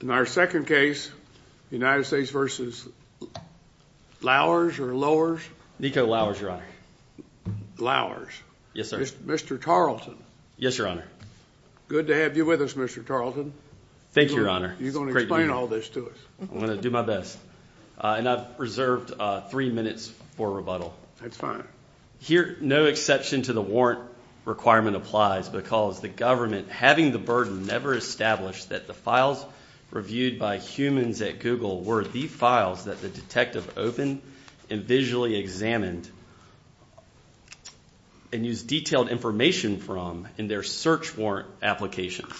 In our second case United States versus Lowers or Lowers? Nico Lowers, your honor. Lowers. Yes, sir. Mr. Tarleton. Yes, your honor. Good to have you with us, Mr. Tarleton. Thank you, your honor. You're gonna explain all this to us. I'm gonna do my best and I've reserved three minutes for rebuttal. That's fine. Here no exception to the warrant requirement applies because the government having the burden never established that the files reviewed by humans at Google were the files that the detective opened and visually examined and used detailed information from in their search warrant applications.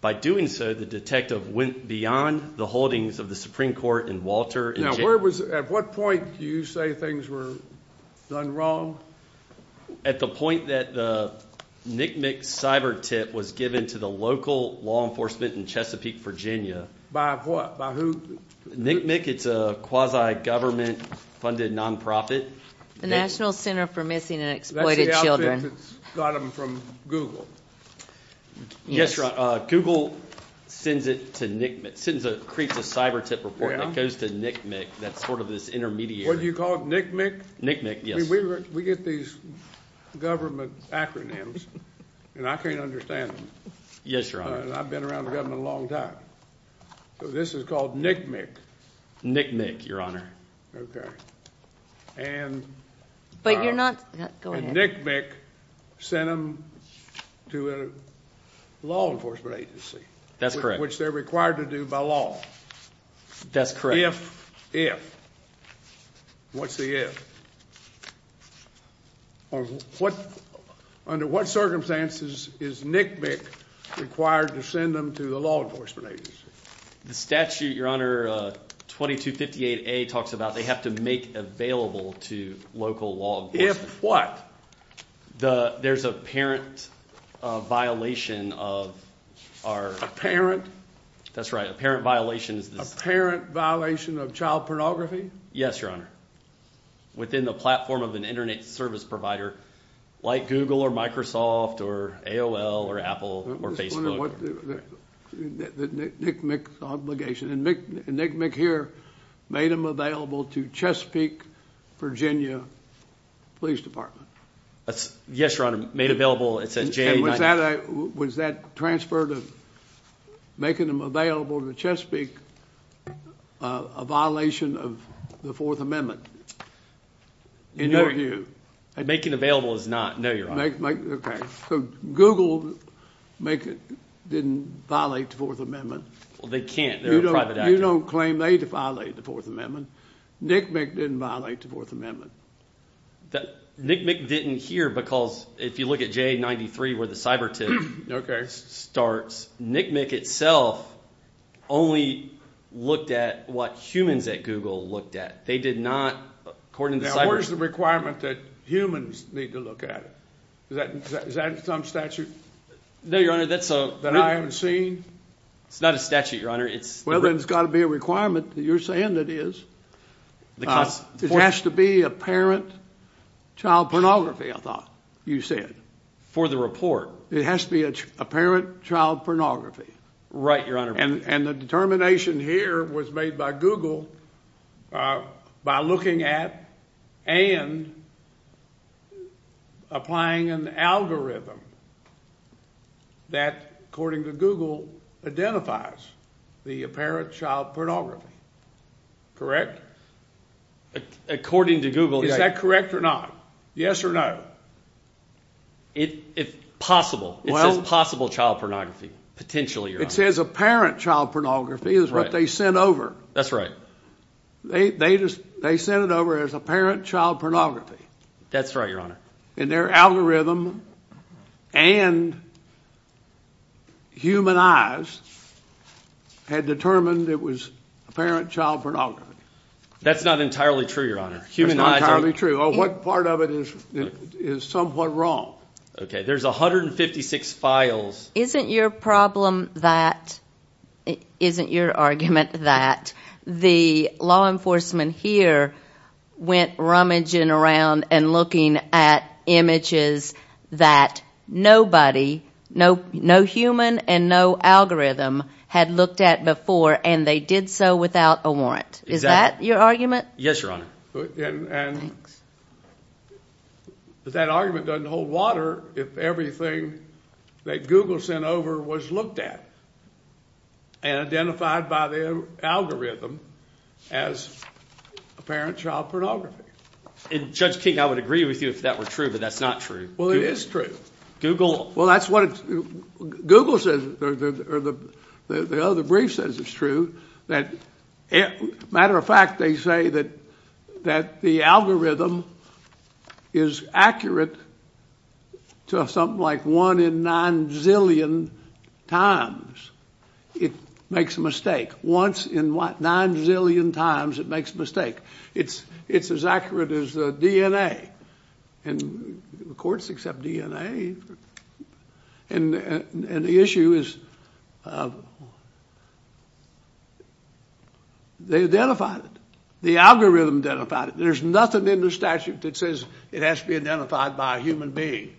By doing so the detective went beyond the holdings of the Supreme Court and Walter. Now where was at what point do you say things were done wrong? At the point that the NCMEC cyber tip was given to the local law enforcement in Chesapeake, Virginia. By what? By who? NCMEC, it's a quasi-government funded nonprofit. The National Center for Missing and Exploited Children. That's the outfit that got them from Google? Yes. Google sends it to NCMEC, sends a, creates a cyber tip report that goes to NCMEC that's sort of this intermediary. What do you call it, NCMEC? NCMEC, yes. We get these government acronyms and I can't understand them. Yes, your honor. I've been around the government a long time. So this is called NCMEC. NCMEC, your honor. Okay. And, but you're not, go ahead. NCMEC sent them to a law enforcement agency. That's correct. Which they're required to do by law. That's correct. If, if, what's the if? What, under what circumstances is NCMEC required to send them to the law enforcement agency? The statute, your honor, 2258A talks about they have to make available to local law enforcement. If what? The, there's a parent violation of our. A parent? That's right. A parent violation. A parent violation of child pornography? Yes, your honor. Within the platform of an internet service provider like Google or Microsoft or AOL or Apple or Facebook. The NCMEC obligation. And NCMEC here made them available to Chesapeake, Virginia Police Department. Yes, your honor. Made available, it says, J. Was that, was that transfer to making them available to Chesapeake a violation of the Fourth Amendment? In your view? Making available is not, no, your honor. Okay, so Google make it, didn't violate the Fourth Amendment. Well, they can't. They're a private actor. You don't claim they defiled the Fourth Amendment. NCMEC didn't violate the Fourth Amendment. That, NCMEC didn't here because if you look at J93 where the cyber tip starts, NCMEC itself only looked at what humans at Google looked at. They did not, according to cyber. Now, where's the requirement that humans need to look at it? Is that, is that some statute? No, your honor, that's a. That I haven't seen? It's not a statute, your honor. It's. Well, then it's got to be a requirement that you're saying it is. It has to be apparent child pornography, I thought you said. For the report. It has to be apparent child pornography. Right, your honor. And the determination here was made by Google by looking at and applying an algorithm that, according to Google, identifies the apparent child pornography, correct? According to Google. Is that correct or not? Yes or no? It, if possible, it says possible child pornography, potentially, your honor. It says apparent child pornography is what they sent over. That's right. They, they just, they sent it over as apparent child pornography. That's right, your honor. And their algorithm and human eyes had determined it was apparent child pornography. That's not entirely true, your honor. Human eyes are. That's not entirely true. Or what part of it is, is somewhat wrong. Okay, there's a hundred and fifty-six files. Isn't your problem that, isn't your argument that the law enforcement here went rummaging around and looking at images that nobody, no, no human and no algorithm had looked at before and they did so without a warrant? Is that your argument? Yes, your honor. And that argument doesn't hold water if everything that Google sent over was looked at and identified by the algorithm as apparent child pornography. And Judge King, I would agree with you if that were true, but that's not true. Well, it is true. Google. Well, that's what Google says, or the other brief says it's true. That, matter of fact, they say that, that the algorithm is accurate to something like one in nine zillion times. It makes a mistake. Once in what, nine zillion times it makes a mistake. It's, it's as accurate as the DNA. And the courts accept DNA. And the issue is, they identified it. The algorithm identified it. There's nothing in the statute that says it has to be identified by a human being.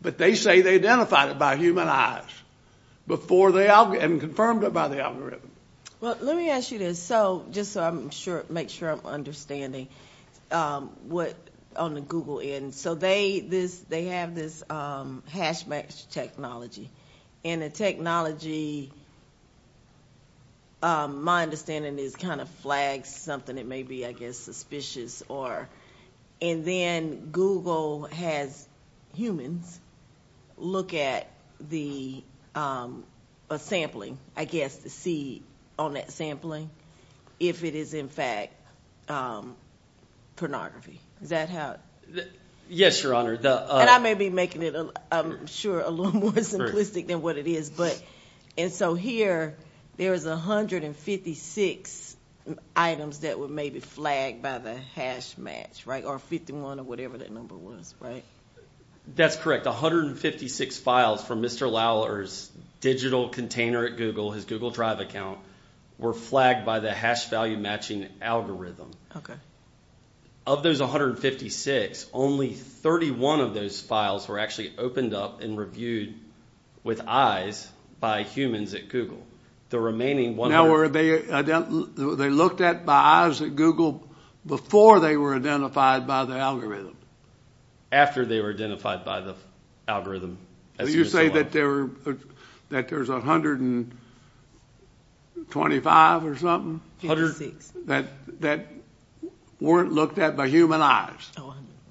But they say they identified it by human eyes before they, and confirmed it by the algorithm. Well, let me ask you this. So, just so I'm sure, make sure I'm understanding what, on the Google end. So they, this, they have this hash match technology. And the technology, my understanding is kind of flags something that may be, I guess, suspicious or, and then Google has humans look at the sampling, I guess, to see on that sampling, if it is in fact pornography. Is that how? Yes, Your Honor. And I may be making it, I'm sure, a little more simplistic than what it is. But, and so here, there is a hundred and fifty-six items that were maybe flagged by the hash match, right? Or 51 or whatever that number was, right? That's correct. A hundred and fifty-six files from Mr. Lauer's digital container at Google, his Google Drive account, were flagged by the hash value matching algorithm. Okay. Of those 156, only 31 of those files were actually opened up and reviewed with eyes by humans at Google. The remaining one... Now, were they, they looked at by eyes at Google before they were identified by the algorithm? After they were identified by the algorithm. You say that there were, that there's a hundred and twenty-five or something? Hundred and six. That, that weren't looked at by human eyes?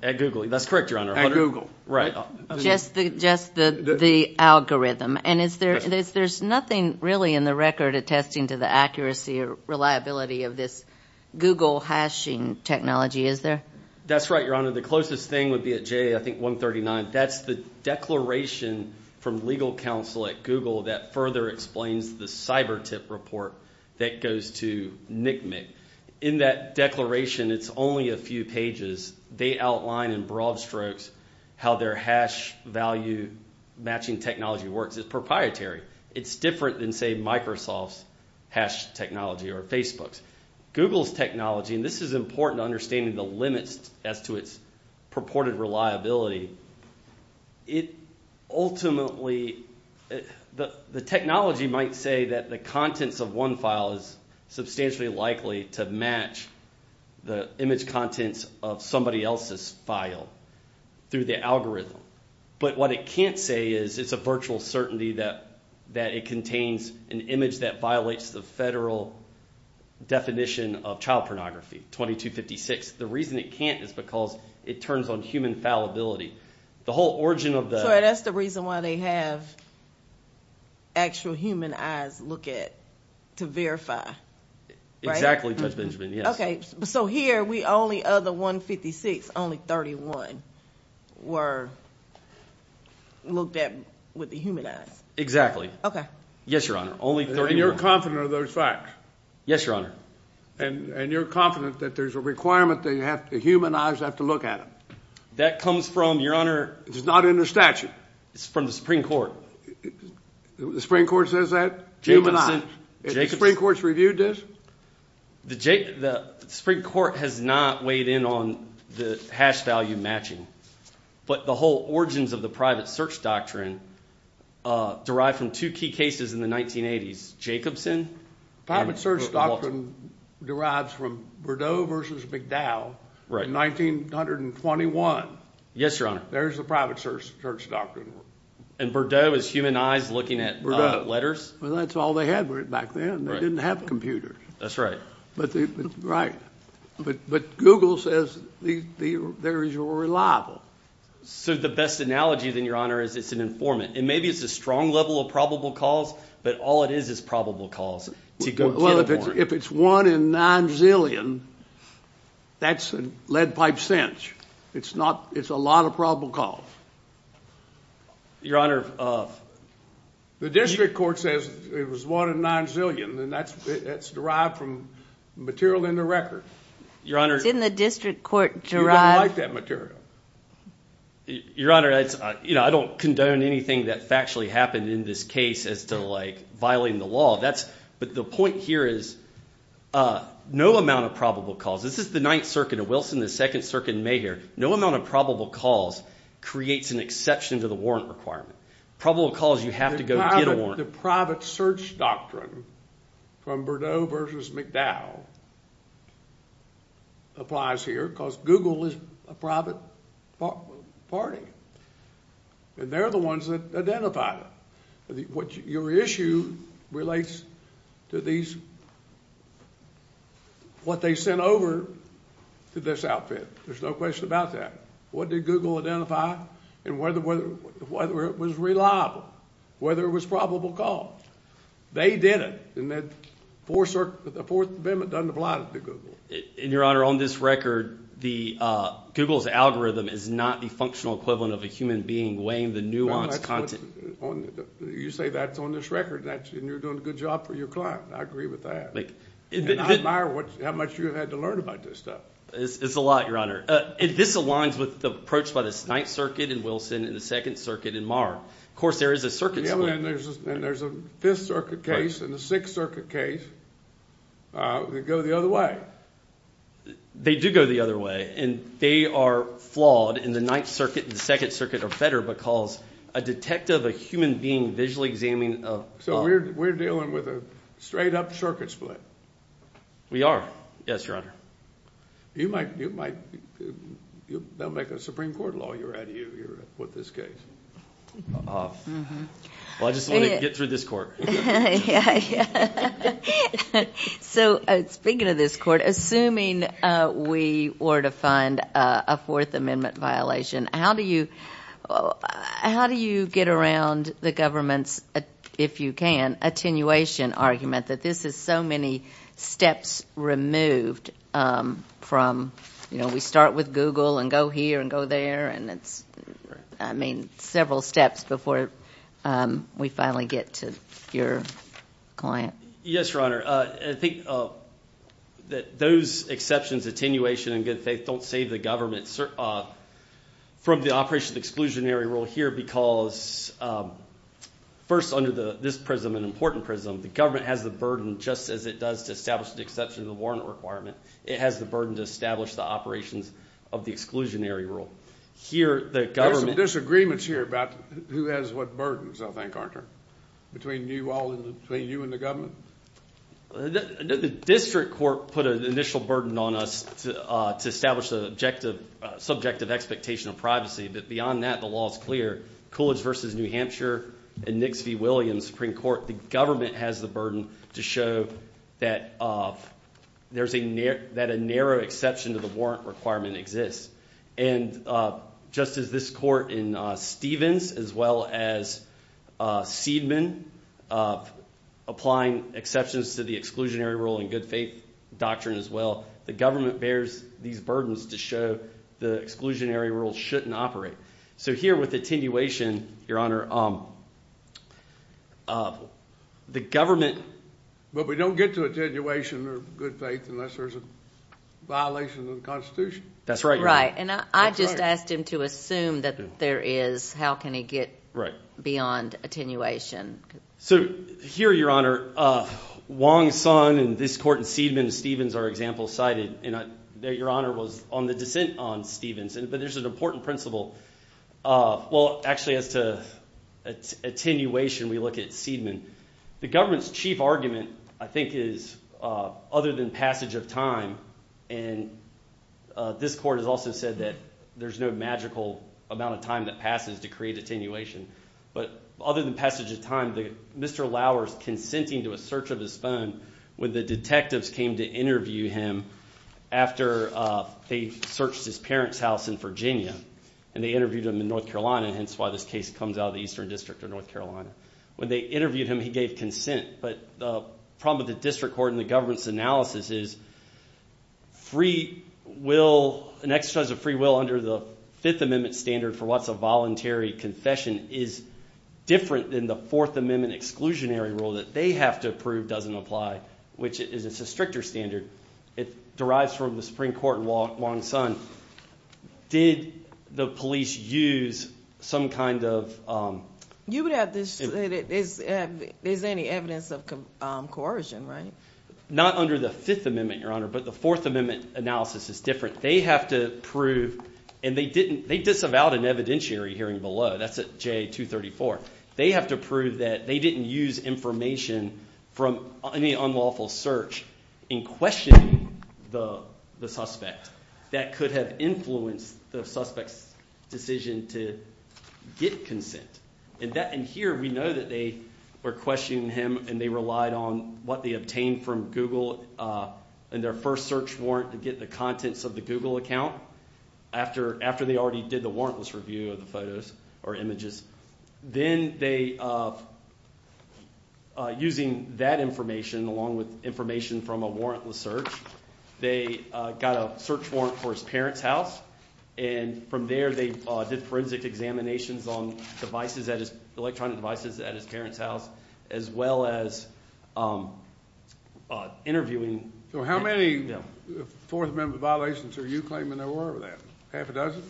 At Google. That's correct, Your Honor. At Google. Right. Just the, just the algorithm. And is there, there's nothing really in the record attesting to the accuracy or reliability of this Google hashing technology, is there? That's right, Your Honor. The closest thing would be at J, I think, 139. That's the declaration from legal counsel at Google that further explains the cyber tip report that goes to NCMEC. In that declaration, it's only a few pages. They outline in broad strokes how their hash value matching technology works. It's proprietary. It's different than, say, Microsoft's hash technology or Facebook's. Google's technology, and this is important to understanding the limits as to its purported reliability, it ultimately, the, the technology might say that the contents of one file is substantially likely to match the image contents of somebody else's file through the algorithm. But what it can't say is it's a virtual certainty that, that it contains an image that violates the federal definition of child pornography, 2256. The reason it can't is because it turns on human fallibility. The whole origin of the... So that's the reason why they have actual human eyes look at, to verify. Exactly, Judge Benjamin, yes. Okay, so here we only other 156, only 31 were looked at with the human eyes. Exactly. Okay. Yes, Your Honor, only 31. And you're confident of those facts? Yes, Your Honor. And, and you're confident that there's a requirement that you have, the human eyes have to look at it? That comes from, Your Honor... It's not in the statute? It's from the Supreme Court. The Supreme Court says that? Jacobson. The Supreme Court's reviewed this? The Supreme Court has not weighed in on the hash value matching, but the whole origins of the private search doctrine derived from two key cases in the 1980s, Jacobson... Private search doctrine derives from Bordeaux versus McDowell, 1921. Yes, Your Honor. There's the private search doctrine. And Bordeaux is human eyes looking at letters? Well, that's all they had back then. They didn't have computers. That's right. But they, right, but, but Google says there is a reliable... So the best analogy, then, Your Honor, is it's an informant. And maybe it's a strong level of probable cause, but all it is is probable cause. Well, if it's one in nine zillion, that's a lead pipe cinch. It's not, it's a lot of probable cause. Your Honor... The district court says it was one in nine million, and that's derived from material in the record. Your Honor... It's in the district court derived... You don't like that material. Your Honor, it's, you know, I don't condone anything that factually happened in this case as to, like, violating the law. That's, but the point here is no amount of probable cause. This is the Ninth Circuit of Wilson, the Second Circuit in May here. No amount of probable cause creates an exception to the warrant requirement. Probable cause, you have to go get a warrant. The private search doctrine from Berdeau versus McDowell applies here, because Google is a private party, and they're the ones that identify it. What your issue relates to these, what they sent over to this outfit. There's no question about that. What did Google identify, and whether, whether it was reliable, whether it was probable cause. They did it, and that Fourth Circuit, the Fourth Amendment doesn't apply to Google. And, Your Honor, on this record, Google's algorithm is not the functional equivalent of a human being weighing the nuanced content. You say that's on this record, and you're doing a good job for your client. I agree with that, and I admire what, how much you had to learn about this stuff. It's a lot, Your Honor, and this aligns with the approach by the Ninth Circuit in Wilson, and the Second Circuit in Marr. Of course, there is a circuit split. And there's a Fifth Circuit case, and a Sixth Circuit case. They go the other way. They do go the other way, and they are flawed, and the Ninth Circuit and the Second Circuit are better, because a detective, a human being, visually examining a... So, we're dealing with a straight-up circuit split. We are. Yes, Your Honor. You might, you might, they'll make a Supreme Court lawyer out of you, with this case. Well, I just want to get through this court. So, speaking of this court, assuming we were to find a Fourth Amendment violation, how do you, how do you get around the government's, if you can, attenuation argument that this is so many steps removed from, you know, we start with Google, and go here, and go there, and it's, I mean, several steps before we finally get to your client. Yes, Your Honor. I think that those exceptions, attenuation and good faith, don't save the government from the operation of exclusionary rule here, because, first, under the, this prism, an important prism, the government has the burden, just as it does to establish the exception of the warrant requirement, it has the burden to establish the operations of the exclusionary rule. Here, the government... There's some disagreements here about who has what burdens, I think, aren't there? Between you all, between you and the government? The district court put an initial burden on us to establish the objective, subjective expectation of privacy, but beyond that, the law is clear. Coolidge versus New Hampshire, and show that there's a, that a narrow exception to the warrant requirement exists, and just as this court in Stevens, as well as Seidman, applying exceptions to the exclusionary rule and good faith doctrine, as well, the government bears these burdens to show the exclusionary rule shouldn't operate. So here, with attenuation, your honor, the government... But we don't get to attenuation or good faith unless there's a violation of the Constitution. That's right. Right, and I just asked him to assume that there is, how can he get beyond attenuation? So here, your honor, Wong's son and this court in Seidman and Stevens are example cited, and your honor was on the dissent on Stevens, but there's an important principle. Well, actually, as to attenuation, we look at Seidman. The government's chief argument, I think, is other than passage of time, and this court has also said that there's no magical amount of time that passes to create attenuation, but other than passage of time, Mr. Lauer's consenting to a search of his phone when the detectives came to interview him after they searched his parents' house in Virginia, and they interviewed him in North Carolina, hence why this case comes out of the Eastern District of North Carolina. When they interviewed him, he gave consent, but the problem with the district court and the government's analysis is free will, an exercise of free will under the Fifth Amendment standard for what's a voluntary confession is different than the Fourth Amendment exclusionary rule that they have to approve doesn't apply, which is a stricter standard. It derives from the Supreme Court in Wong-Sun. Did the police use some kind of... You would have to say that there's any evidence of coercion, right? Not under the Fifth Amendment, Your Honor, but the Fourth Amendment analysis is different. They have to prove, and they disavowed an evidentiary hearing below, that's at J. 234. They have to prove that they didn't use information from any unlawful search in questioning the suspect. That could have influenced the suspect's decision to get consent. And here we know that they were questioning him and they relied on what they obtained from Google in their first search warrant to get the contents of the Google account after they already did the warrantless review of the photos or images. Then they, using that information along with information from a warrantless search, they got a search warrant for his parents' house and from there they did forensic examinations on devices, electronic devices, at his parents' house as well as interviewing... So how many Fourth Amendment violations are you claiming there were of that? Half a dozen?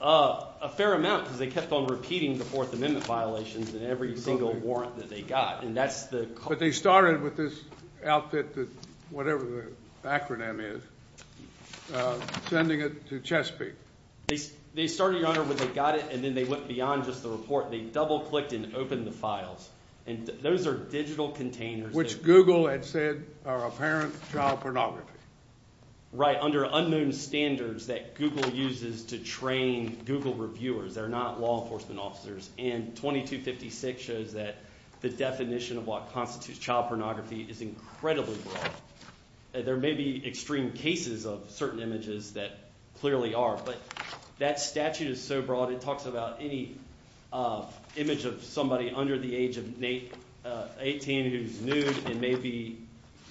A fair amount because they kept on repeating the Fourth Amendment violations in every single warrant that they got. But they started with this outfit, whatever the acronym is, sending it to Chesapeake. They started, Your Honor, when they got it and then they went beyond just the report. They double-clicked and opened the files and those are digital containers. Which Google had said are apparent child pornography. Right, under unknown standards that Google uses to train Google reviewers. They're not law enforcement officers and 2256 shows that the definition of what constitutes child pornography is incredibly broad. There may be extreme cases of certain images that clearly are but that statute is so broad it talks about any image of somebody under the age of 18 who's nude and maybe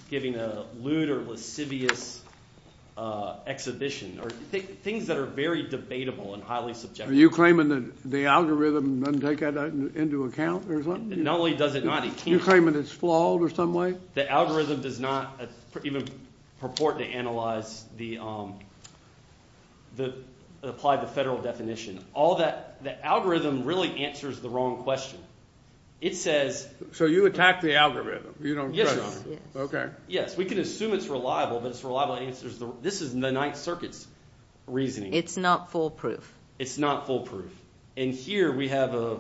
giving a lewd or lascivious exhibition or things that are very debatable and highly subjective. Are you claiming that the algorithm doesn't take that into account or something? Not only does it not, it can't. You're claiming it's flawed or some way? The algorithm does not even purport to analyze the, apply the federal definition. All that, the algorithm really answers the wrong question. It says... So you attack the algorithm? Yes, Your Honor. Okay. Yes, we can assume it's reliable but it's reliable answers the, this is the Ninth Circuit's reasoning. It's not foolproof. It's not foolproof and here we have a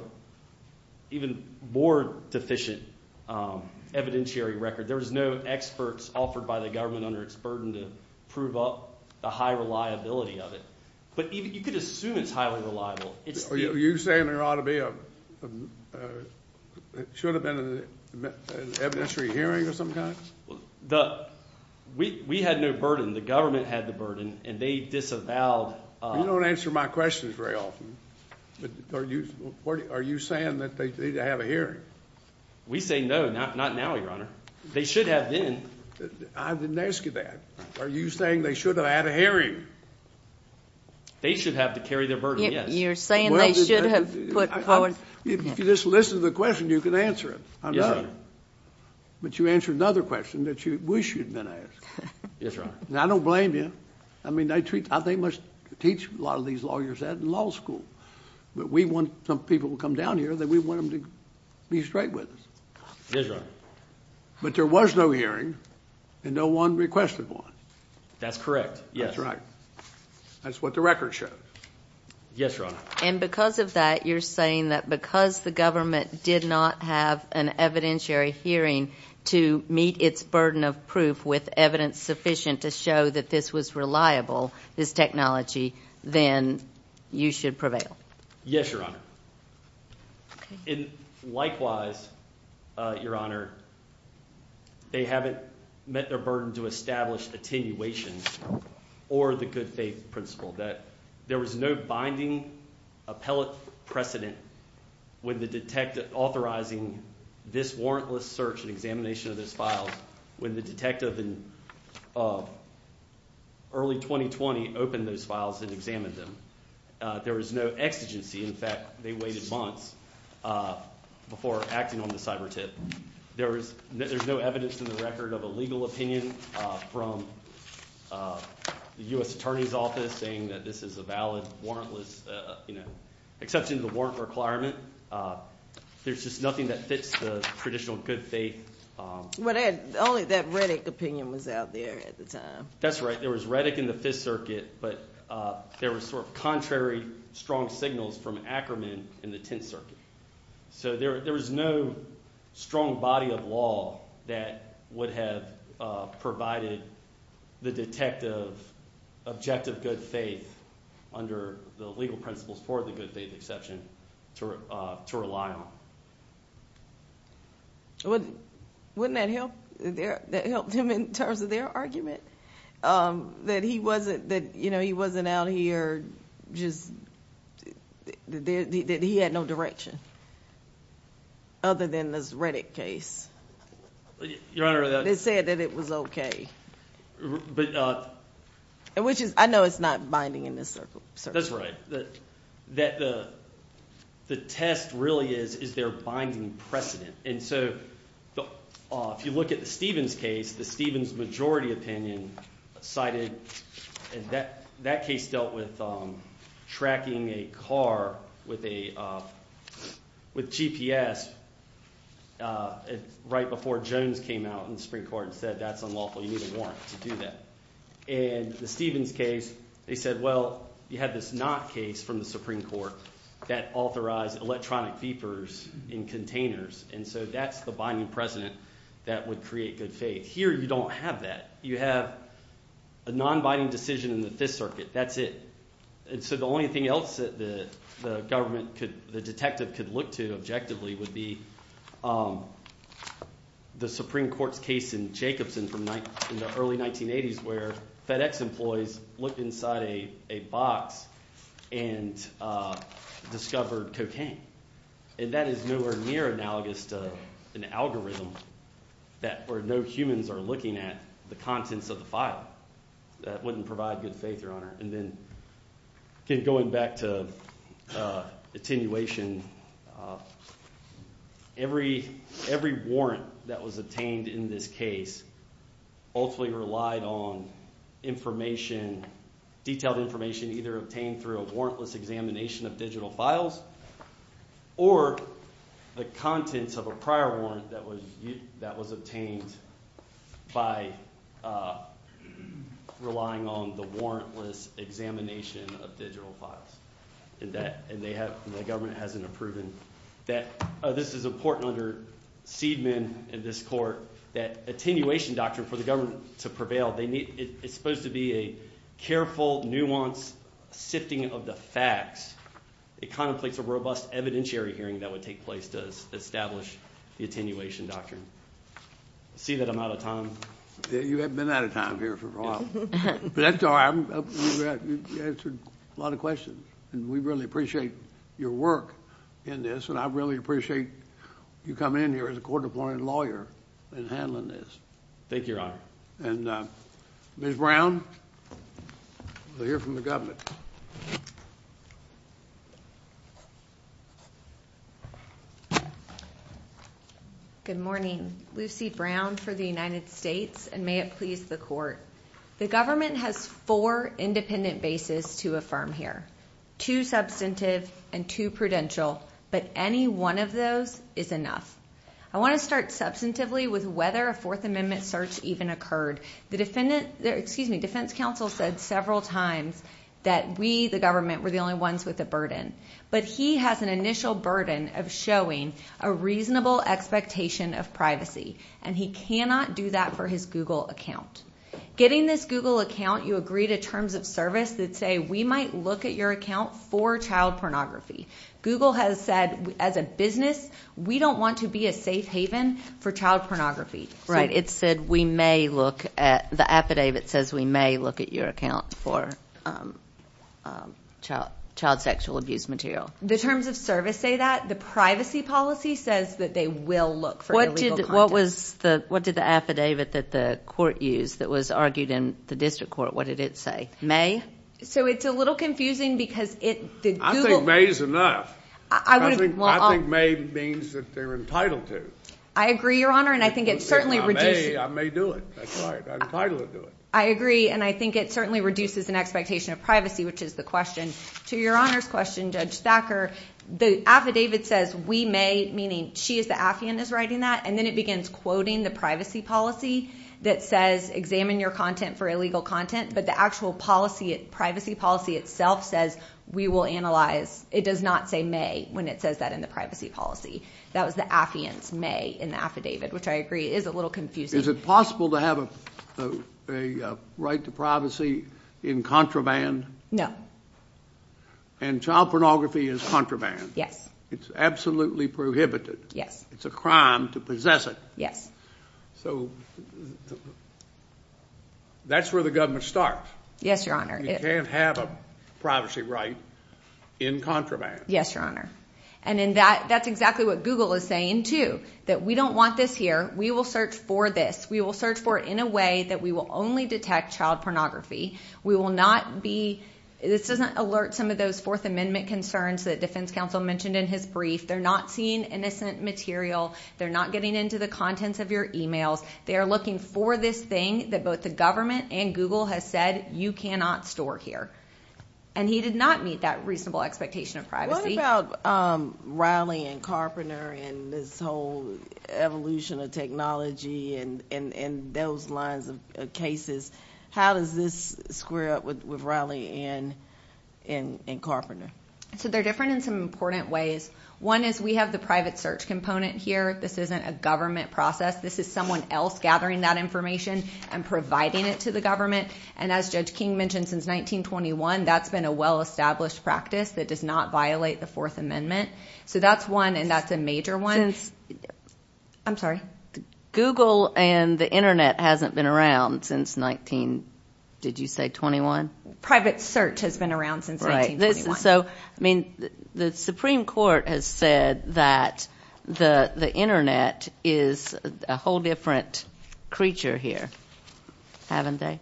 even more deficient evidentiary record. There's no experts offered by the government under its burden to prove up the high reliability of it but you could assume it's highly reliable. Are you saying there ought to be a, should have been an evidentiary hearing of some kind? The, we had no burden. The government had the burden and they disavowed... You don't answer my questions very often. Are you, are you saying that they need to have a hearing? We say no, not now, Your Honor. They should have been. I didn't ask you that. Are you saying they should have had a hearing? They should have to carry their burden, yes. You're saying they should have put forward... If you just listen to the question, you can answer it. Yes, Your Honor. But you answered another question that you wish you'd been asked. Yes, Your Honor. Now, I don't blame you. I mean, they treat, they must teach a lot of these lawyers that in law school but we want some people who come down here that we want them to be straight with us. Yes, Your Honor. But there was no hearing and no one requested one. That's correct, yes. That's right. That's what the record shows. Yes, Your Honor. And because of that you're saying that because the government did not have an evidentiary hearing to meet its burden of proof with evidence sufficient to show that this was reliable, this technology, then you should prevail. Yes, Your Honor. And likewise, Your Honor, they haven't met their burden to establish attenuation or the good faith principle. That there was no binding appellate precedent with the detective authorizing this warrantless search and examination of those files when the detective in early 2020 opened those files and examined them. There was no exigency. In fact, they waited months before acting on the cyber tip. There's no evidence in the record of a legal opinion from the U.S. Attorney's Office saying that this is a valid warrantless, you know, exception to the warrant requirement. There's just nothing that fits the traditional good faith. Only that Reddick opinion was out there at the time. That's right. There was Reddick in the Fifth Circuit, but there was sort of contrary strong signals from Ackerman in the Tenth Circuit. So there there was no strong body of law that would have provided the detective objective good faith under the legal principles for the good faith exception to rely on. Well, wouldn't that help there? That helped him in terms of their argument that he wasn't that, you know, he wasn't out here just that he had no direction other than this Reddick case. Your Honor, they said that it was okay. But which is I know it's not binding in this circle. That's right. That the the test really is, is there binding precedent? And so if you look at the Stevens case, the Stevens majority opinion cited that that case dealt with, um, tracking a car with a, uh, with GPS. Uh, right before Jones came out in the Supreme Court and said, that's unlawful. You need a warrant to do that. And the Stevens case, they said, well, you had this not case from the Supreme Court that authorized electronic beepers in containers. And so that's the binding precedent that would create good faith here. You don't have that. You have a nonbinding decision in the Fifth Circuit. That's it. So the only thing else that the government could, the detective could look to objectively would be, um, the Supreme Court's case in Jacobson from the early 19 eighties, where FedEx employees looked inside a box and, uh, discovered cocaine. And that is nowhere near analogous to an algorithm that or no humans are looking at the contents of the file. That wouldn't provide good faith, Your Honor. And then going back to, uh, attenuation, uh, every, every warrant that was obtained in this case ultimately relied on information, detailed information either obtained through a warrantless examination of digital files or the contents of a prior warrant that was, that was obtained by, uh, relying on the warrantless examination of digital files. And that, and they have, the government hasn't proven that this is important under Seidman in this court, that attenuation doctrine for the government to prevail, they need, it's supposed to be a careful, nuanced sifting of the facts. It contemplates a robust evidentiary hearing that would take place to establish the attenuation doctrine. See that I'm out of time. You have been out of time here for a while, but that's all right. You've answered a lot of questions and we really appreciate your work in this. And I really appreciate you coming in here as a court appointed lawyer and handling this. Thank you, Your Honor. And, uh, Ms. Brown, we'll hear from the Good morning, Lucy Brown for the United States and may it please the court. The government has four independent bases to affirm here, two substantive and two but any one of those is enough. I want to start substantively with whether a fourth amendment search even occurred. The defendant, excuse me, defense counsel said several times that we, the government, were the only ones with the burden, but he has an initial burden of showing a reasonable expectation of privacy and he cannot do that for his Google account. Getting this Google account, you agree to terms of service that say we might look at your account for child pornography. Google has said as a business, we don't want to be a safe haven for child pornography, right? It said we may look at the affidavit says we may look at your account for, um, um, child, child sexual abuse material. The terms of service say that the privacy policy says that they will look for what was the, what did the affidavit that the court use that was argued in the district court? What did it say? May. So it's a little confusing because it, I think May's enough. I think May means that they're entitled to. I agree, your honor, and I think it certainly reduces. I may do it. That's right. I'm entitled to do it. I agree and I think it certainly reduces an expectation of privacy, which is the question. To your honor's question, Judge Thacker, the affidavit says we may, meaning she is the affiant is writing that and then it begins quoting the privacy policy that says examine your content for illegal content. But the actual policy privacy policy itself says we will analyze. It does not say May when it says that in the privacy policy that was the affiance may in the affidavit, which I agree is a little confusing. Is it possible to have a right to privacy in contraband? No. And child pornography is contraband. Yes, it's absolutely prohibited. Yes, it's a That's where the government starts. Yes, your honor. You can't have a privacy right in contraband. Yes, your honor. And in that, that's exactly what Google is saying to that. We don't want this here. We will search for this. We will search for in a way that we will only detect child pornography. We will not be. This doesn't alert some of those Fourth Amendment concerns that defense counsel mentioned in his brief. They're not seeing innocent material. They're not getting into the contents of your emails. They're looking for this thing that both the government and Google has said you cannot store here and he did not meet that reasonable expectation of privacy rallying Carpenter and this whole evolution of technology and those lines of cases. How does this square up with rallying in in in Carpenter? So they're different in important ways. One is we have the private search component here. This isn't a government process. This is someone else gathering that information and providing it to the government. And as Judge King mentioned since 1921, that's been a well established practice that does not violate the Fourth Amendment. So that's one and that's a major ones. I'm sorry, Google and the Internet hasn't been around since 19. Did you say 21? Private search has been around since 19. So I mean, the Supreme Court has said that the Internet is a whole different creature here, haven't they?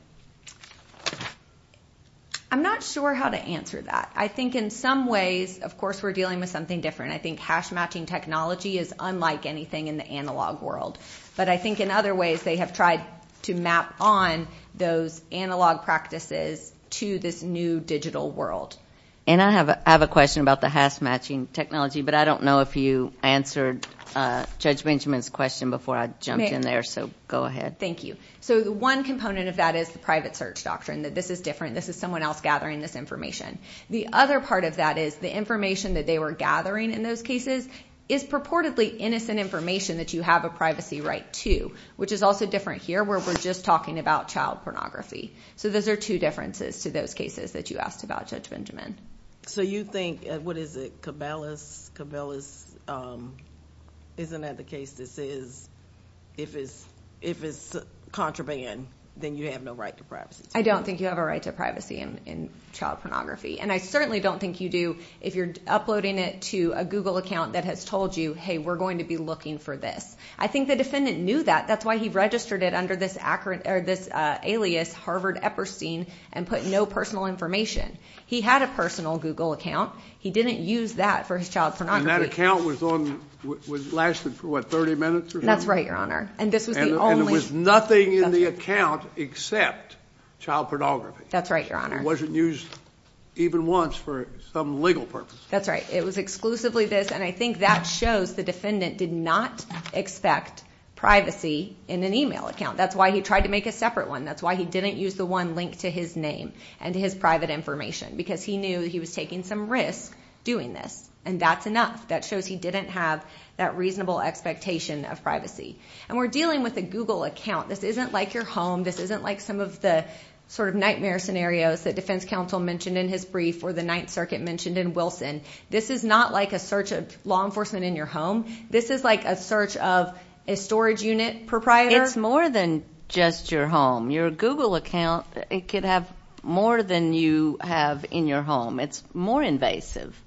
I'm not sure how to answer that. I think in some ways, of course, we're dealing with something different. I think hash matching technology is unlike anything in the analog world, but I think in other ways they have tried to map on those analog practices to this new digital world. And I have a question about the hash matching technology, but I don't know if you answered Judge Benjamin's question before I jumped in there. So go ahead. Thank you. So the one component of that is the private search doctrine that this is different. This is someone else gathering this information. The other part of that is the information that they were gathering in those cases is purportedly innocent information that you have a privacy right to, which is also different here where we're just talking about child pornography. So those are two differences to those cases that you asked about, Judge Benjamin. So you think, what is it, Cabela's? Isn't that the case that says if it's contraband, then you have no right to privacy? I don't think you have a right to privacy in child pornography, and I certainly don't think you do if you're uploading it to a Google account that has told you, hey, we're going to be looking for this. I think the defendant knew that. That's why he registered it under this alias Harvard Epperstein and put no personal information. He had a personal Google account. He didn't use that for his child pornography. And that account lasted for, what, 30 minutes or so? That's right, Your Honor. And this was the only... And there was nothing in the account except child pornography. That's right, Your Honor. It wasn't used even once for some legal purpose. That's right. It was exclusively this, and I think that shows the defendant did not expect privacy in an email account. That's why he tried to make a separate one. That's why he didn't use the one linked to his name and his private information, because he knew he was taking some risk doing this, and that's enough. That shows he didn't have that reasonable expectation of privacy. And we're dealing with a Google account. This isn't like your home. This isn't like some of the sort of nightmare scenarios that defense counsel mentioned in his brief or the Ninth Circuit mentioned in Wilson. This is not like a search of law enforcement in your home. This is like a search of a storage unit proprietor. It's more than just your home. Your Google account could have more than you have in your home. It's more invasive.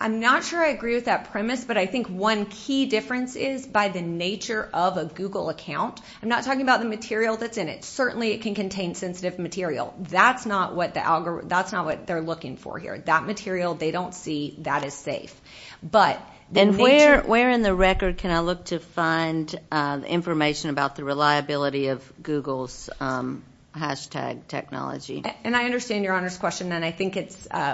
I'm not sure I agree with that premise, but I think one key difference is by the nature of a Google account. I'm not talking about the material that's in it. Certainly it can contain sensitive material. That's not what they're looking for here. That material they don't see, that is safe. Where in the record can I look to find information about the reliability of Google's hashtag technology? I understand your Honor's question, and I think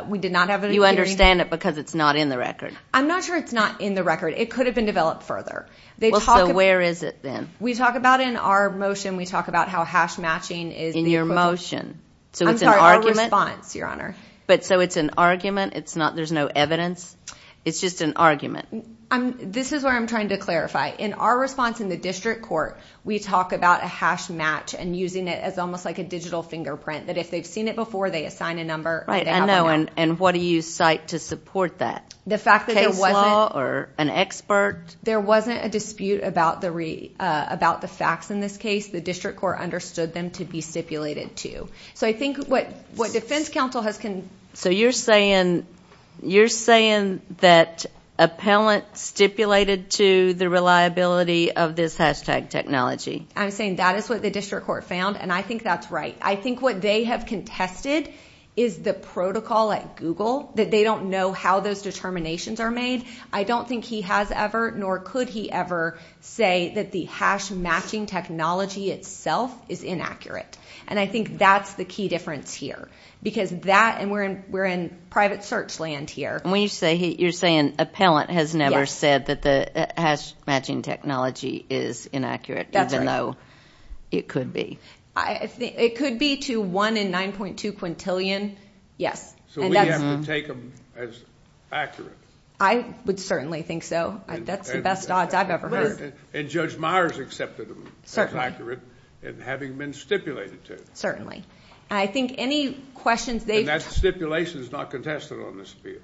we did not have it in theory. You understand it because it's not in the record? I'm not sure it's not in the record. It could have been developed further. Where is it then? We talk about it in our motion. We talk about how hash matching is the equivalent. In your motion? I'm sorry, our response, Your Honor. It's an argument? There's no evidence? It's just an argument? This is where I'm trying to clarify. In our response in the district court, we talk about a hash match and using it as almost like a digital fingerprint. If they've seen it before, they assign a number and they have a hash. What do you cite to support that? The fact that there wasn't- Case law or an expert? There wasn't a dispute about the facts in this case. The district court understood them to be stipulated to. I think what defense counsel has- You're saying that appellant stipulated to the reliability of this hashtag technology? I'm saying that is what the district court found, and I think that's right. I think what they have contested is the protocol at Google, that they don't know how those determinations are made. I don't think he has ever, nor could he ever, say that the hash matching technology itself is inaccurate, and I think that's the key difference here. We're in private search land here. You're saying appellant has never said that the hash matching technology is inaccurate even though it could be? It could be to one in 9.2 quintillion, yes. We have to take them as accurate? I would certainly think so. That's the best odds I've ever heard. And Judge Meyers accepted them as accurate, and having been stipulated to? Certainly. I think any questions they've- And that stipulation is not contested on this appeal?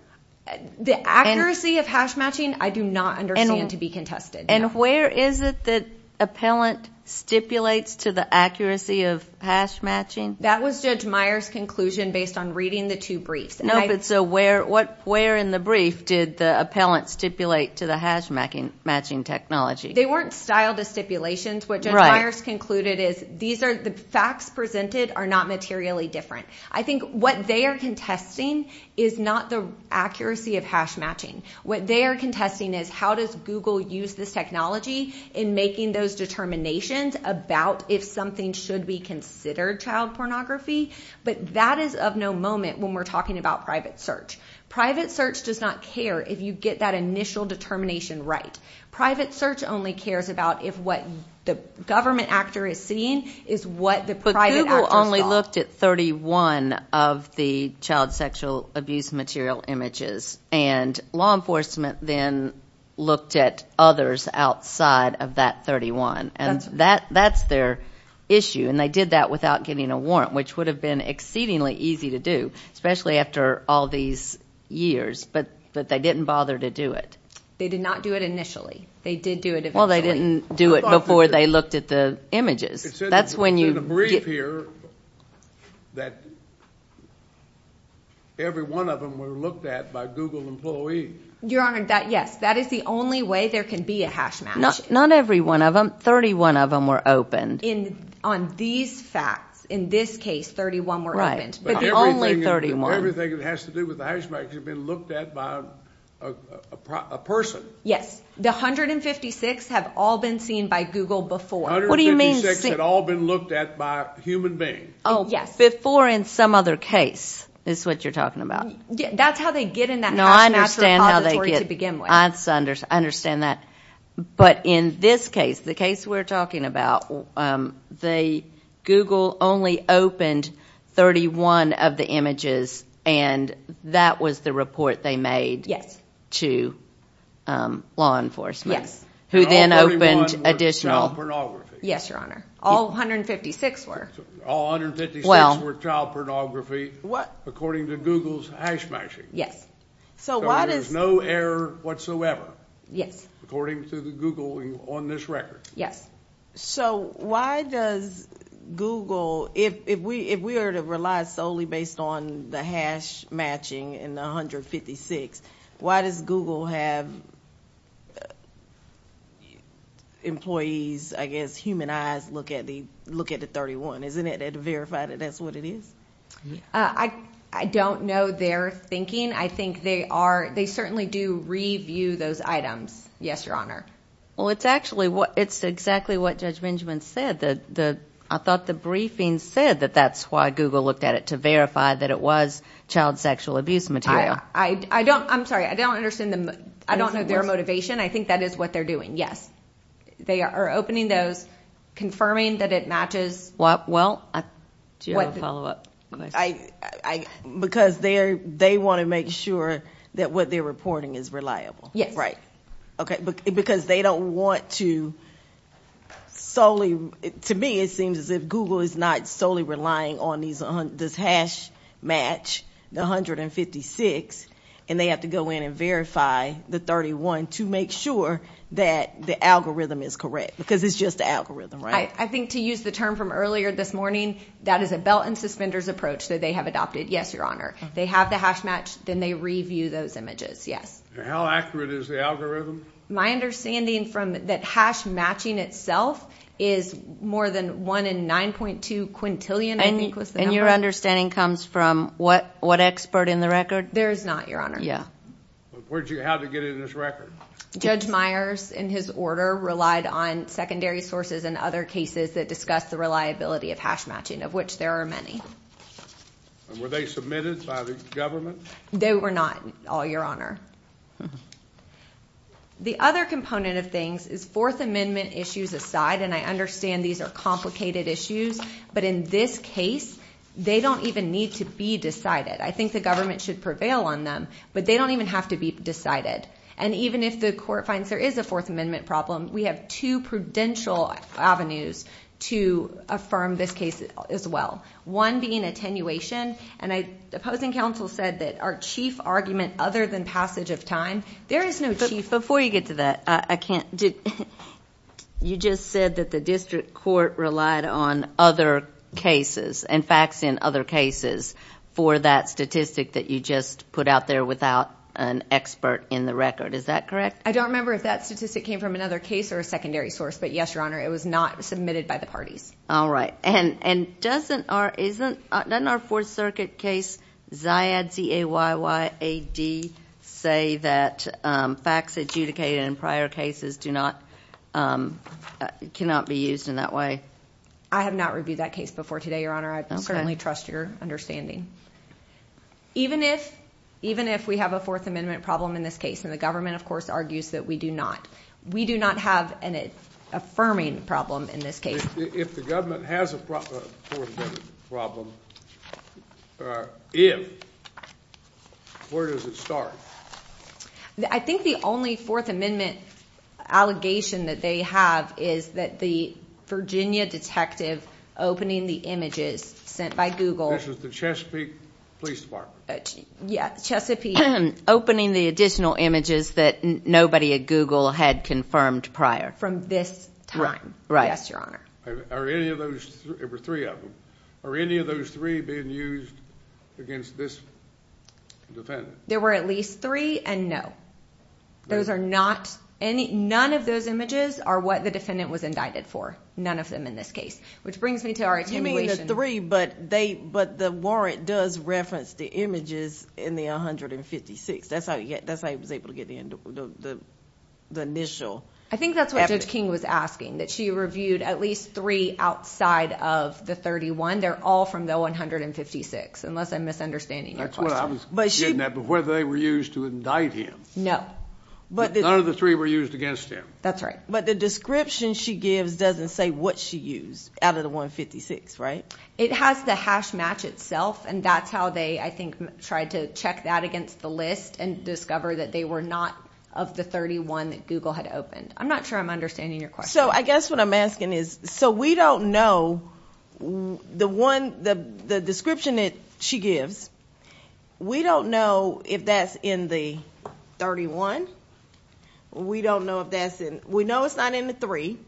The accuracy of hash matching, I do not understand to be contested. And where is it that appellant stipulates to the accuracy of hash matching? That was Judge Meyers' conclusion based on reading the two briefs. No, but so where in the brief did the appellant stipulate to the hash matching technology? They weren't styled as stipulations. What Judge Meyers concluded is, the facts presented are not materially different. I think what they are contesting is not the accuracy of hash matching. What they are contesting is how does Google use this technology in making those determinations about if something should be considered child pornography? But that is of no moment when we're talking about private search. Private search does not care if you get that initial determination right. Private search only cares about if what the government actor is seeing is what the private actor's got. But Google only looked at 31 of the child sexual abuse material images, and law enforcement then looked at others outside of that 31. And that's their issue, and they did that without getting a warrant, which would have been exceedingly easy to do, especially after all these years. But they didn't bother to do it. They did not do it initially. They did do it eventually. Well, they didn't do it before they looked at the images. It says in the brief here that every one of them were looked at by Google employees. Your Honor, yes, that is the only way there can be a hash match. Not every one of them. 31 of them were opened. On these facts, in this case, 31 were opened. But the only 31. Everything that has to do with the hash match has been looked at by a person. Yes. The 156 have all been seen by Google before. 156 had all been looked at by a human being. Oh, yes. Before in some other case is what you're talking about. That's how they get in that hash match repository to begin with. I understand that. But in this case, the case we're talking about, Google only opened 31 of the images, and that was the report they made to law enforcement. Yes. Who then opened additional. Yes, Your Honor. All 156 were. All 156 were child pornography according to Google's hash matching. Yes. So there's no error whatsoever. Yes. According to Google on this record. Yes. So why does Google, if we are to rely solely based on the hash matching in 156, why does Google have employees, I guess, human eyes look at the 31? Isn't it to verify that that's what it is? I don't know their thinking. I think they are. They certainly do review those items. Yes, Your Honor. Well, it's exactly what Judge Benjamin said. I thought the briefing said that that's why Google looked at it, to verify that it was child sexual abuse material. I'm sorry. I don't understand. I don't know their motivation. I think that is what they're doing. Yes. They are opening those, confirming that it matches. What? Well, do you have a follow up? Because they want to make sure that what they're reporting is reliable. Yes. Right. Because they don't want to solely... To me, it seems as if Google is not solely relying on this hash match, the 156, and they have to go in and verify the 31 to make sure that the algorithm is correct, because it's just the algorithm, right? I think to use the term from earlier this morning, that is a belt and suspenders approach that they have adopted. Yes, Your Honor. They have the hash match, then they review those images. Yes. How accurate is the algorithm? My understanding from that hash matching itself is more than one in 9.2 quintillion, I think was the number. And your understanding comes from what expert in the record? There is not, Your Honor. Yeah. How did they get it in this record? Judge Myers, in his order, relied on secondary sources and other cases that discuss the reliability of hash matching, of which there are many. And were they submitted by the government? They were not, Your Honor. Mm-hmm. The other component of things is Fourth Amendment issues aside, and I understand these are complicated issues, but in this case, they don't even need to be decided. I think the government should prevail on them, but they don't even have to be decided. And even if the court finds there is a Fourth Amendment problem, we have two prudential avenues to affirm this case as well. One being attenuation, and the opposing counsel said that our chief argument other than passage of time, there is no chief... But before you get to that, I can't... You just said that the district court relied on other cases and facts in other cases for that statistic that you just put out there without an expert in the record. Is that correct? I don't remember if that statistic came from another case or a secondary source, but yes, Your Honor, it was not submitted by the parties. All right. And doesn't our Fourth Circuit case, Zayad, Z-A-Y-Y-A-D, say that facts adjudicated in prior cases cannot be used in that way? I have not reviewed that case before today, Your Honor. I certainly trust your understanding. Even if we have a Fourth Amendment problem in this case, and the government, of course, argues that we do not, we do not have an affirming problem in this case. If the government has a Fourth Amendment problem, if, where does it start? I think the only Fourth Amendment allegation that they have is that the Virginia detective opening the images sent by Google... This was the Chesapeake Police Department. Yeah, Chesapeake... Opening the additional images that nobody at Google had confirmed prior. From this time. Right. Are any of those... There were three of them. Are any of those three being used against this defendant? There were at least three, and no. Those are not... None of those images are what the defendant was indicted for. None of them in this case. Which brings me to our attenuation... You mean the three, but the warrant does reference the images in the 156. That's how he was able to get the initial evidence. I think that's what Judge King was asking, that she reviewed at least three outside of the 31. They're all from the 156, unless I'm misunderstanding your question. That's what I was getting at, but whether they were used to indict him. No. None of the three were used against him. That's right. But the description she gives doesn't say what she used out of the 156, right? It has the hash match itself, and that's how they, I think, tried to check that against the list and discover that they were not of the 31 that Google had opened. I'm not sure I'm understanding your question. So I guess what I'm asking is, so we don't know the description that she gives. We don't know if that's in the 31. We don't know if that's in... We know it's not in the three,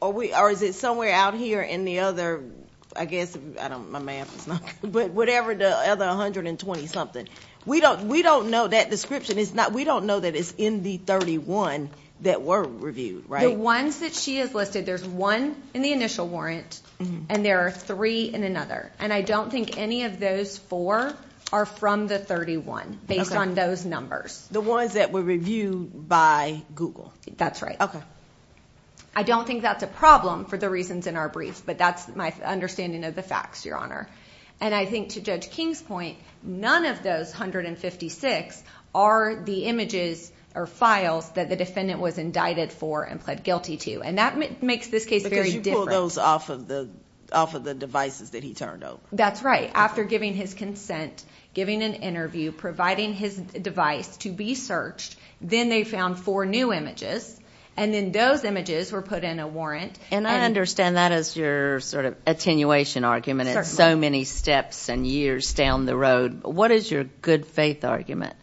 or is it somewhere out here in the other, I guess, I don't... my math is not... But whatever the other 120-something. We don't know that description. We don't know that it's in the 31 that were reviewed, right? The ones that she has listed, there's one in the initial warrant, and there are three in another. And I don't think any of those four are from the 31, based on those numbers. The ones that were reviewed by Google. That's right. I don't think that's a problem for the reasons in our brief, but that's my understanding of the facts, Your Honor. And I think to Judge King's point, none of those 156 are the images or files that the defendant was indicted for and pled guilty to. And that makes this case very different. Because you pulled those off of the devices that he turned over. That's right. After giving his consent, giving an interview, providing his device to be searched, then they found four new images, and then those images were put in a warrant. And I understand that as your sort of attenuation argument. So many steps and years down the road. What is your good faith argument?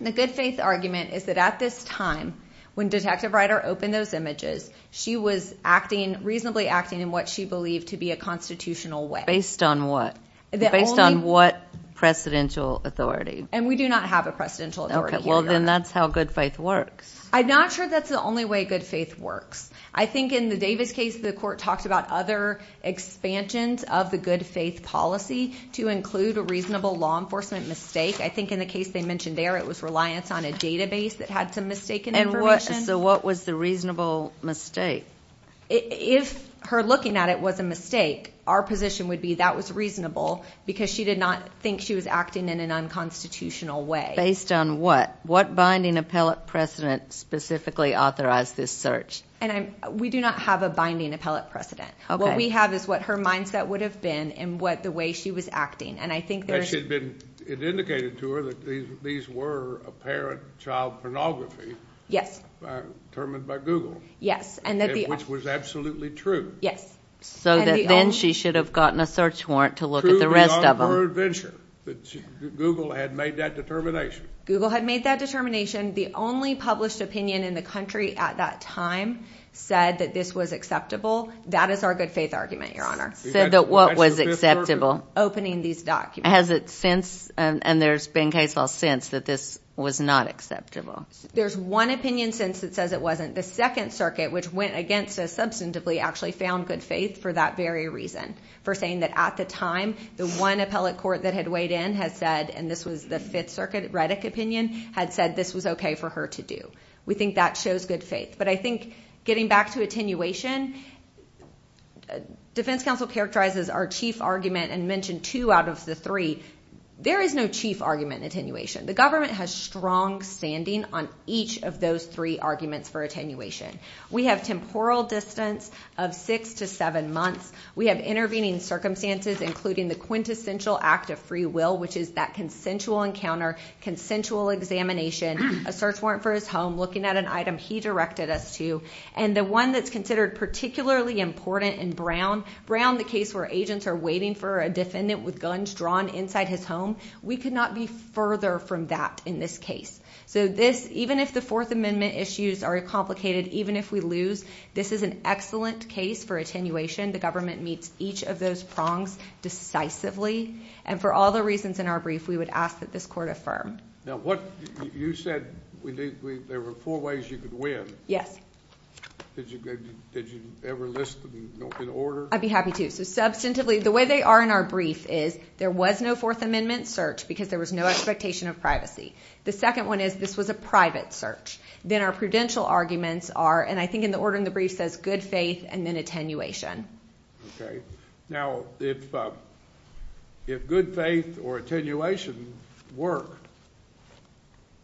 The good faith argument is that at this time, when Detective Ryder opened those images, she was acting, reasonably acting in what she believed to be a constitutional way. Based on what? Based on what precedential authority? And we do not have a precedential authority. Well, then that's how good faith works. I'm not sure that's the only way good faith works. I think in the Davis case, the court talked about other expansions of the good faith policy to include a reasonable law enforcement mistake. I think in the case they mentioned there, it was reliance on a database that had some mistaken information. So what was the reasonable mistake? If her looking at it was a mistake, our position would be that was reasonable because she did not think she was acting in an unconstitutional way. Based on what? What binding appellate precedent specifically authorized this search? We do not have a binding appellate precedent. What we have is what her mindset would have been and what the way she was acting. It indicated to her that these were apparent child pornography. Yes. Determined by Google. Yes. Which was absolutely true. Yes. So then she should have gotten a search warrant to look at the rest of them. Google had made that determination. Google had made that determination. The only published opinion in the country at that time said that this was acceptable. That is our good faith argument, Your Honor. Said that what was acceptable? Opening these documents. Has it since, and there's been case law since, that this was not acceptable? There's one opinion since that says it wasn't. The Second Circuit, which went against us substantively, actually found good faith for that very reason. For saying that at the time, the one appellate court that had weighed in had said, and this was the Fifth Circuit Reddick opinion, had said this was okay for her to do. We think that shows good faith. But I think getting back to attenuation, Defense Counsel characterizes our chief argument and mentioned two out of the three. There is no chief argument in attenuation. The government has strong standing on each of those three arguments for attenuation. We have temporal distance of six to seven months. We have intervening circumstances, including the quintessential act of free will, which is that consensual encounter, consensual examination, a search warrant for his home, looking at an item he directed us to. And the one that's considered particularly important in Brown, Brown, the case where agents are waiting for a defendant with guns drawn inside his home, we could not be further from that in this case. So this, even if the Fourth Amendment issues are complicated, even if we lose, this is an excellent case for attenuation. The government meets each of those prongs decisively. And for all the reasons in our brief, we would ask that this court affirm. Now, you said there were four ways you could win. Yes. Did you ever list them in order? I'd be happy to. So substantively, the way they are in our brief is there was no Fourth Amendment search because there was no expectation of privacy. The second one is this was a private search. Then our prudential arguments are, and I think in the order in the brief says, good faith and then attenuation. Okay. Now, if good faith or attenuation work,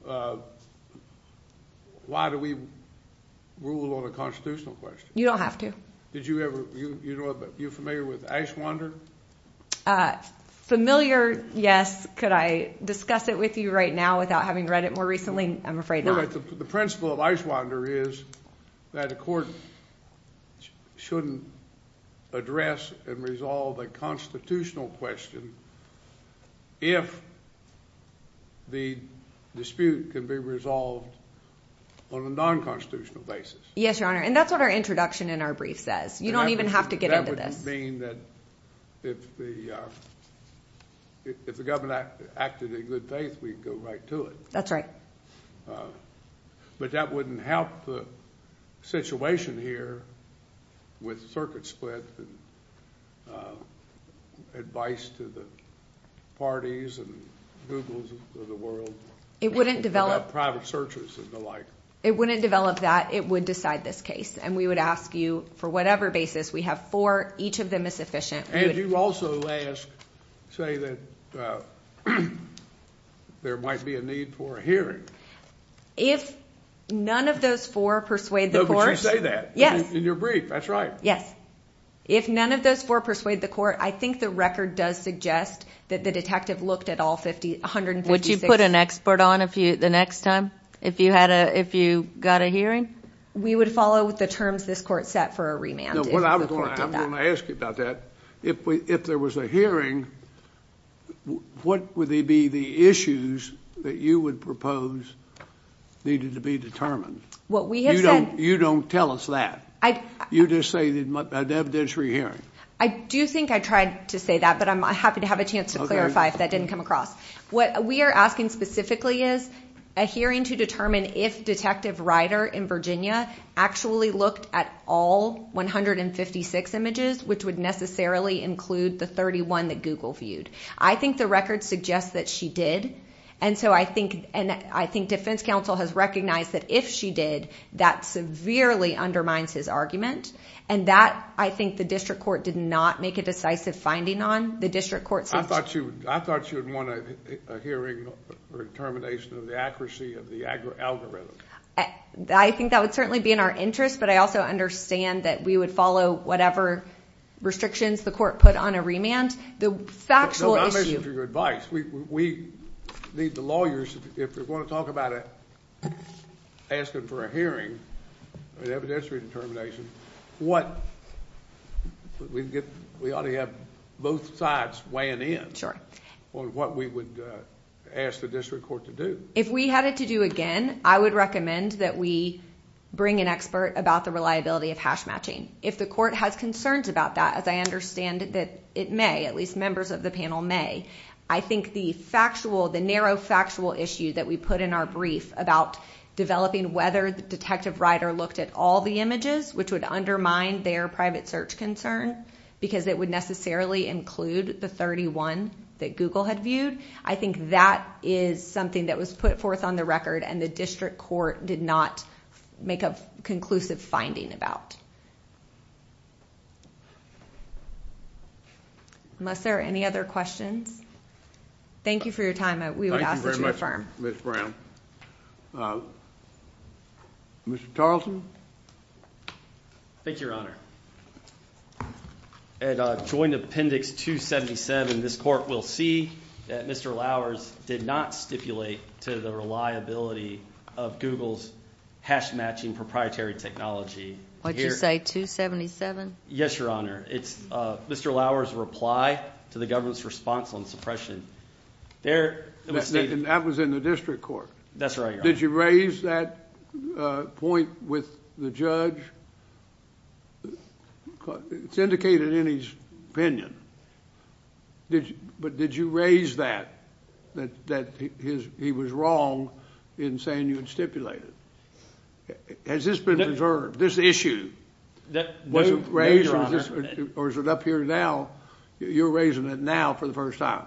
why do we rule on a constitutional question? You don't have to. Did you ever, you know, you're familiar with Icewander? Familiar, yes. Could I discuss it with you right now without having read it more recently? I'm afraid not. The principle of Icewander is that a court shouldn't address and resolve a constitutional question if the dispute can be resolved on a non-constitutional basis. Yes, Your Honor. And that's what our introduction in our brief says. You don't even have to get into this. And that would mean that if the government acted in good faith, we'd go right to it. That's right. But that wouldn't help the situation here with circuit split and advice to the parties and Googles of the world about private searches and the like. It wouldn't develop that. It would decide this case. And we would ask you for whatever basis we have for each of them is sufficient. And you also ask, say that there might be a need for a hearing. If none of those four persuade the court... But you say that in your brief. That's right. Yes. If none of those four persuade the court, I think the record does suggest that the detective looked at all 156... Would you put an expert on the next time if you got a hearing? We would follow the terms this court set for a remand. I'm going to ask you about that. If there was a hearing, what would be the issues that you would propose needed to be determined? You don't tell us that. You just say an evidentiary hearing. I do think I tried to say that, but I'm happy to have a chance to clarify if that didn't come across. What we are asking specifically is a hearing to determine if Detective Ryder in Virginia actually looked at all 156 images, which would necessarily include the 31 that Google viewed. I think the record suggests that she did. And so I think defense counsel has recognized that if she did, that severely undermines his argument. And that, I think the district court did not make a decisive finding on. I thought you would want a hearing or determination of the accuracy of the algorithm. I think that would certainly be in our interest, but I also understand that we would follow whatever restrictions the court put on a remand. The factual issue... No, I'm listening for your advice. We need the lawyers, if we're going to talk about asking for a hearing, an evidentiary determination, what... we ought to have both sides weighing in on what we would ask the district court to do. If we had it to do again, I would recommend that we bring an expert about the reliability of hash matching. If the court has concerns about that, as I understand that it may, at least members of the panel may, I think the factual, the narrow factual issue that we put in our brief about developing whether Detective Ryder looked at all the images, which would undermine their private search concern, because it would necessarily include the 31 that Google had viewed, I think that is something that was put forth on the record and the district court did not make a conclusive finding about. Unless there are any other questions? Thank you for your time. We would ask that you affirm. Thank you very much, Ms. Brown. Mr. Tarleton? Thank you, Your Honor. At joint appendix 277, this court will see that Mr. Lowers did not stipulate to the reliability of Google's hash matching proprietary technology. What did you say, 277? Yes, Your Honor. It's Mr. Lowers' reply to the government's response on suppression. That was in the district court? That's right, Your Honor. Did you raise that point with the judge? It's indicated in his opinion. But did you raise that, that he was wrong in saying you had stipulated? Has this been preserved, this issue? Was it raised or is it up here now? You're raising it now for the first time?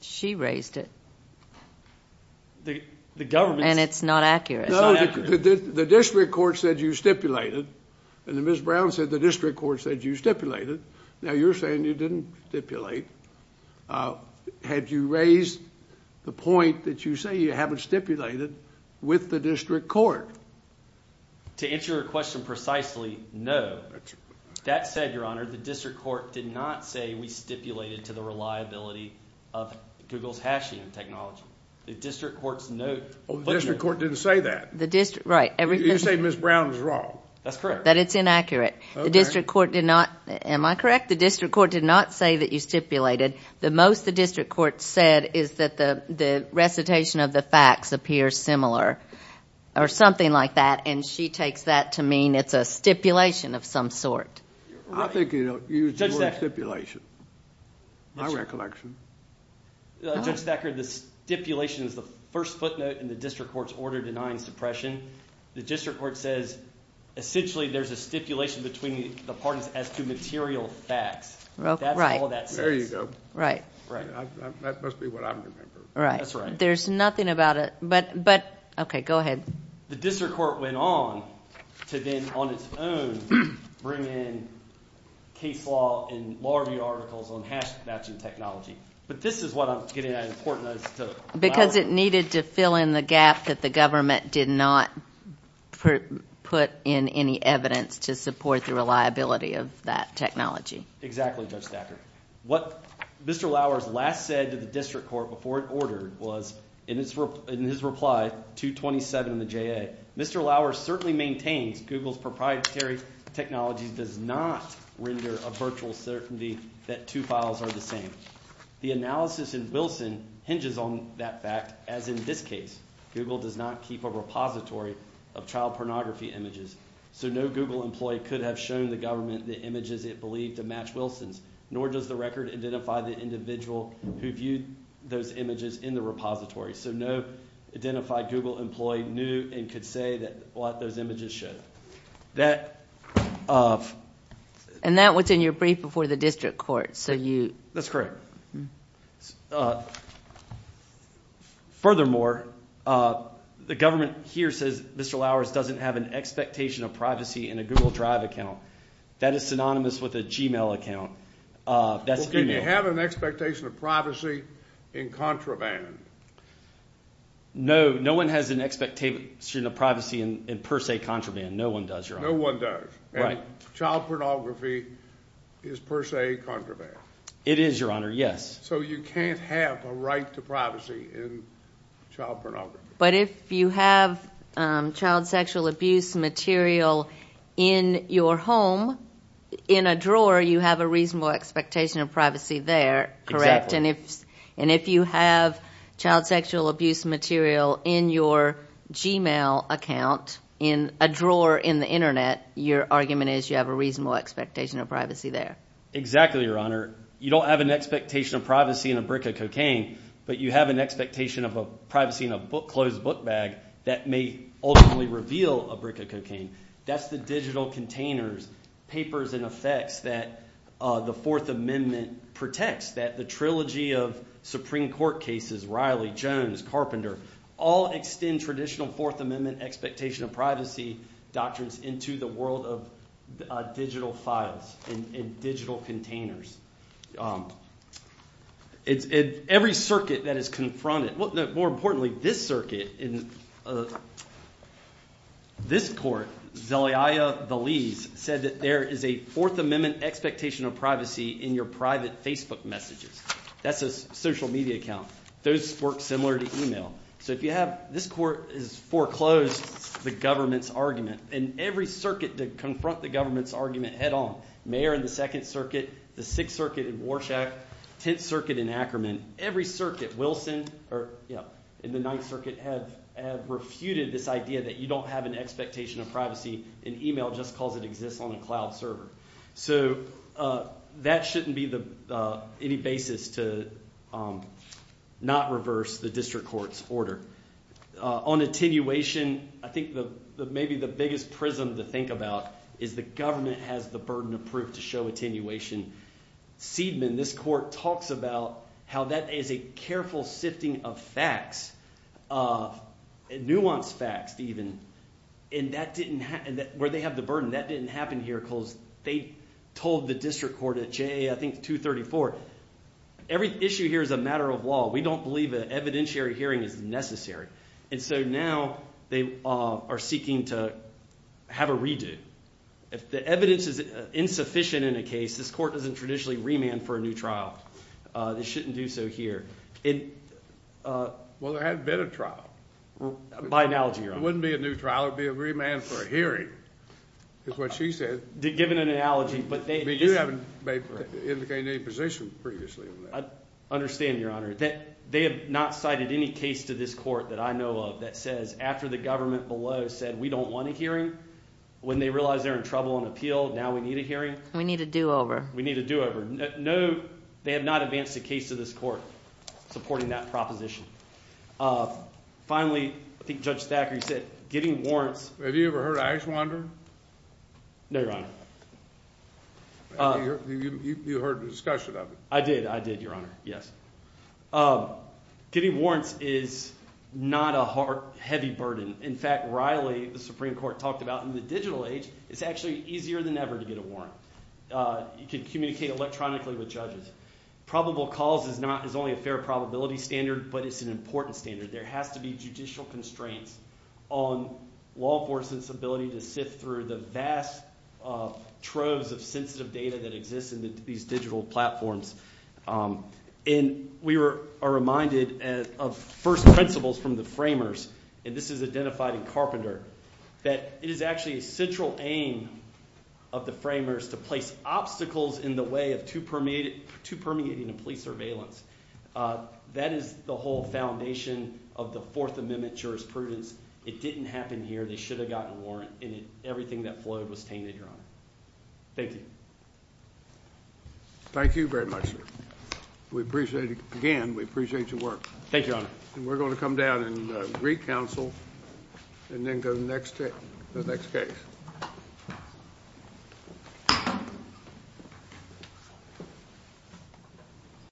She raised it. And it's not accurate? No, the district court said you stipulated and then Ms. Brown said the district court said you stipulated. Now, you're saying you didn't stipulate. Had you raised the point that you say you haven't stipulated with the district court? To answer your question precisely, no. That said, Your Honor, the district court did not say we stipulated to the reliability of Google's hashing technology. The district court's note... Oh, the district court didn't say that? The district... right. You say Ms. Brown is wrong? That's correct. That it's inaccurate. The district court did not... am I correct? The district court did not say that you stipulated. The most the district court said is that the recitation of the facts appears similar or something like that and she takes that to mean it's a stipulation of some sort. I think you used the word stipulation. My recollection. Judge Thacker, the stipulation is the first footnote in the district court's order denying suppression. The district court says essentially there's a stipulation between the parties as to material facts. That's all that says. There you go. Right. Right. That must be what I'm remembering. Right. There's nothing about it, but... okay, go ahead. The district court went on to then on its own bring in case law and law review articles on hash matching technology, but this is what I'm getting at in court notes to... Because it needed to fill in the gap that the government did not put in any evidence to support the reliability of that technology. Exactly, Judge Thacker. What Mr. Lowers last said to the district court before it ordered was in his reply 227 in the JA. Mr. Lowers certainly maintains Google's proprietary technology does not render a virtual certainty that two files are the same. The analysis in Wilson hinges on that fact, as in this case, Google does not keep a repository of child pornography images. So no Google employee could have shown the government the images it believed to match Wilson's, nor does the record identify the individual who viewed those images in the repository. So no identified Google employee knew and could say what those images showed. And that was in your brief before the district court, so you... That's correct. Furthermore, the government here says Mr. Lowers doesn't have an expectation of privacy in a Google Drive account. That is synonymous with a Gmail account. Can you have an expectation of privacy in contraband? No, no one has an expectation of privacy in per se contraband. No one does, Your Honor. No one does. Right. Child pornography is per se contraband. It is, Your Honor, yes. So you can't have a right to privacy in child pornography. But if you have child sexual abuse material in your home, in a drawer, you have a reasonable expectation of privacy there, correct? And if you have child sexual abuse material in your Gmail account, in a drawer in the internet, your argument is you have a reasonable expectation of privacy there? Exactly, Your Honor. You don't have an expectation of privacy in a brick of cocaine, but you have an expectation of privacy in a closed book bag that may ultimately reveal a brick of cocaine. That's the digital containers, papers, and effects that the Fourth Amendment protects, that the trilogy of Supreme Court cases, Riley, Jones, Carpenter, all extend traditional Fourth Amendment expectation of privacy doctrines into the world of digital files and digital containers. In every circuit that is confronted, more importantly, this circuit, in this court, Zelaya Veliz, said that there is a Fourth Amendment expectation of privacy in your private Facebook messages. That's a social media account. Those work similar to email. So if you have, this court has foreclosed the government's argument. In every circuit that confront the government's argument head on, Mayor in the Second Circuit, the Sixth Circuit in Warshak, Tenth Circuit in Ackerman, every circuit, Wilson, or in the Ninth Circuit, have refuted this idea that you don't have an expectation of privacy. An email just calls it exists on a cloud server. So that shouldn't be any basis to not reverse the district court's order. On attenuation, I think maybe the biggest prism to think about is the government has the burden of proof to show attenuation. Seidman, this court, talks about how that is a careful sifting of facts, nuanced facts even, and that didn't, where they have the burden, that didn't happen here because they told the district court at JA, I think 234, every issue here is a matter of law. We don't believe an evidentiary hearing is necessary. And so now they are seeking to have a redo. If the evidence is insufficient in a case, this court doesn't traditionally remand for a new trial. They shouldn't do so here. Well, there hasn't been a trial. By analogy, Your Honor. It wouldn't be a new trial. It would be a remand for a hearing, is what she said. Given an analogy, but they— But you haven't indicated any position previously on that. I understand, Your Honor. They have not cited any case to this court that I know of that says after the government below said we don't want a hearing, when they realize they're in trouble on appeal, now we need a hearing. We need a do-over. We need a do-over. No, they have not advanced a case to this court supporting that proposition. Finally, I think Judge Thackeray said getting warrants— Have you ever heard of Ashwander? No, Your Honor. You heard the discussion of it. I did. I did, Your Honor. Yes. Getting warrants is not a heavy burden. In fact, Riley, the Supreme Court, talked about in the digital age, it's actually easier than ever to get a warrant. You can communicate electronically with judges. Probable cause is not— is only a fair probability standard, but it's an important standard. There has to be judicial constraints on law enforcement's ability to sift through the vast troves of sensitive data that exists in these digital platforms. And we are reminded of first principles from the framers, and this is identified in Carpenter, that it is actually a central aim of the framers to place obstacles in the way of too permeating a police surveillance. That is the whole foundation of the Fourth Amendment jurisprudence. It didn't happen here. They should have gotten a warrant, and everything that flowed was tainted, Your Honor. Thank you. Thank you very much, sir. We appreciate it. Again, we appreciate your work. Thank you, Your Honor. And we're going to come down and re-counsel and then go to the next case.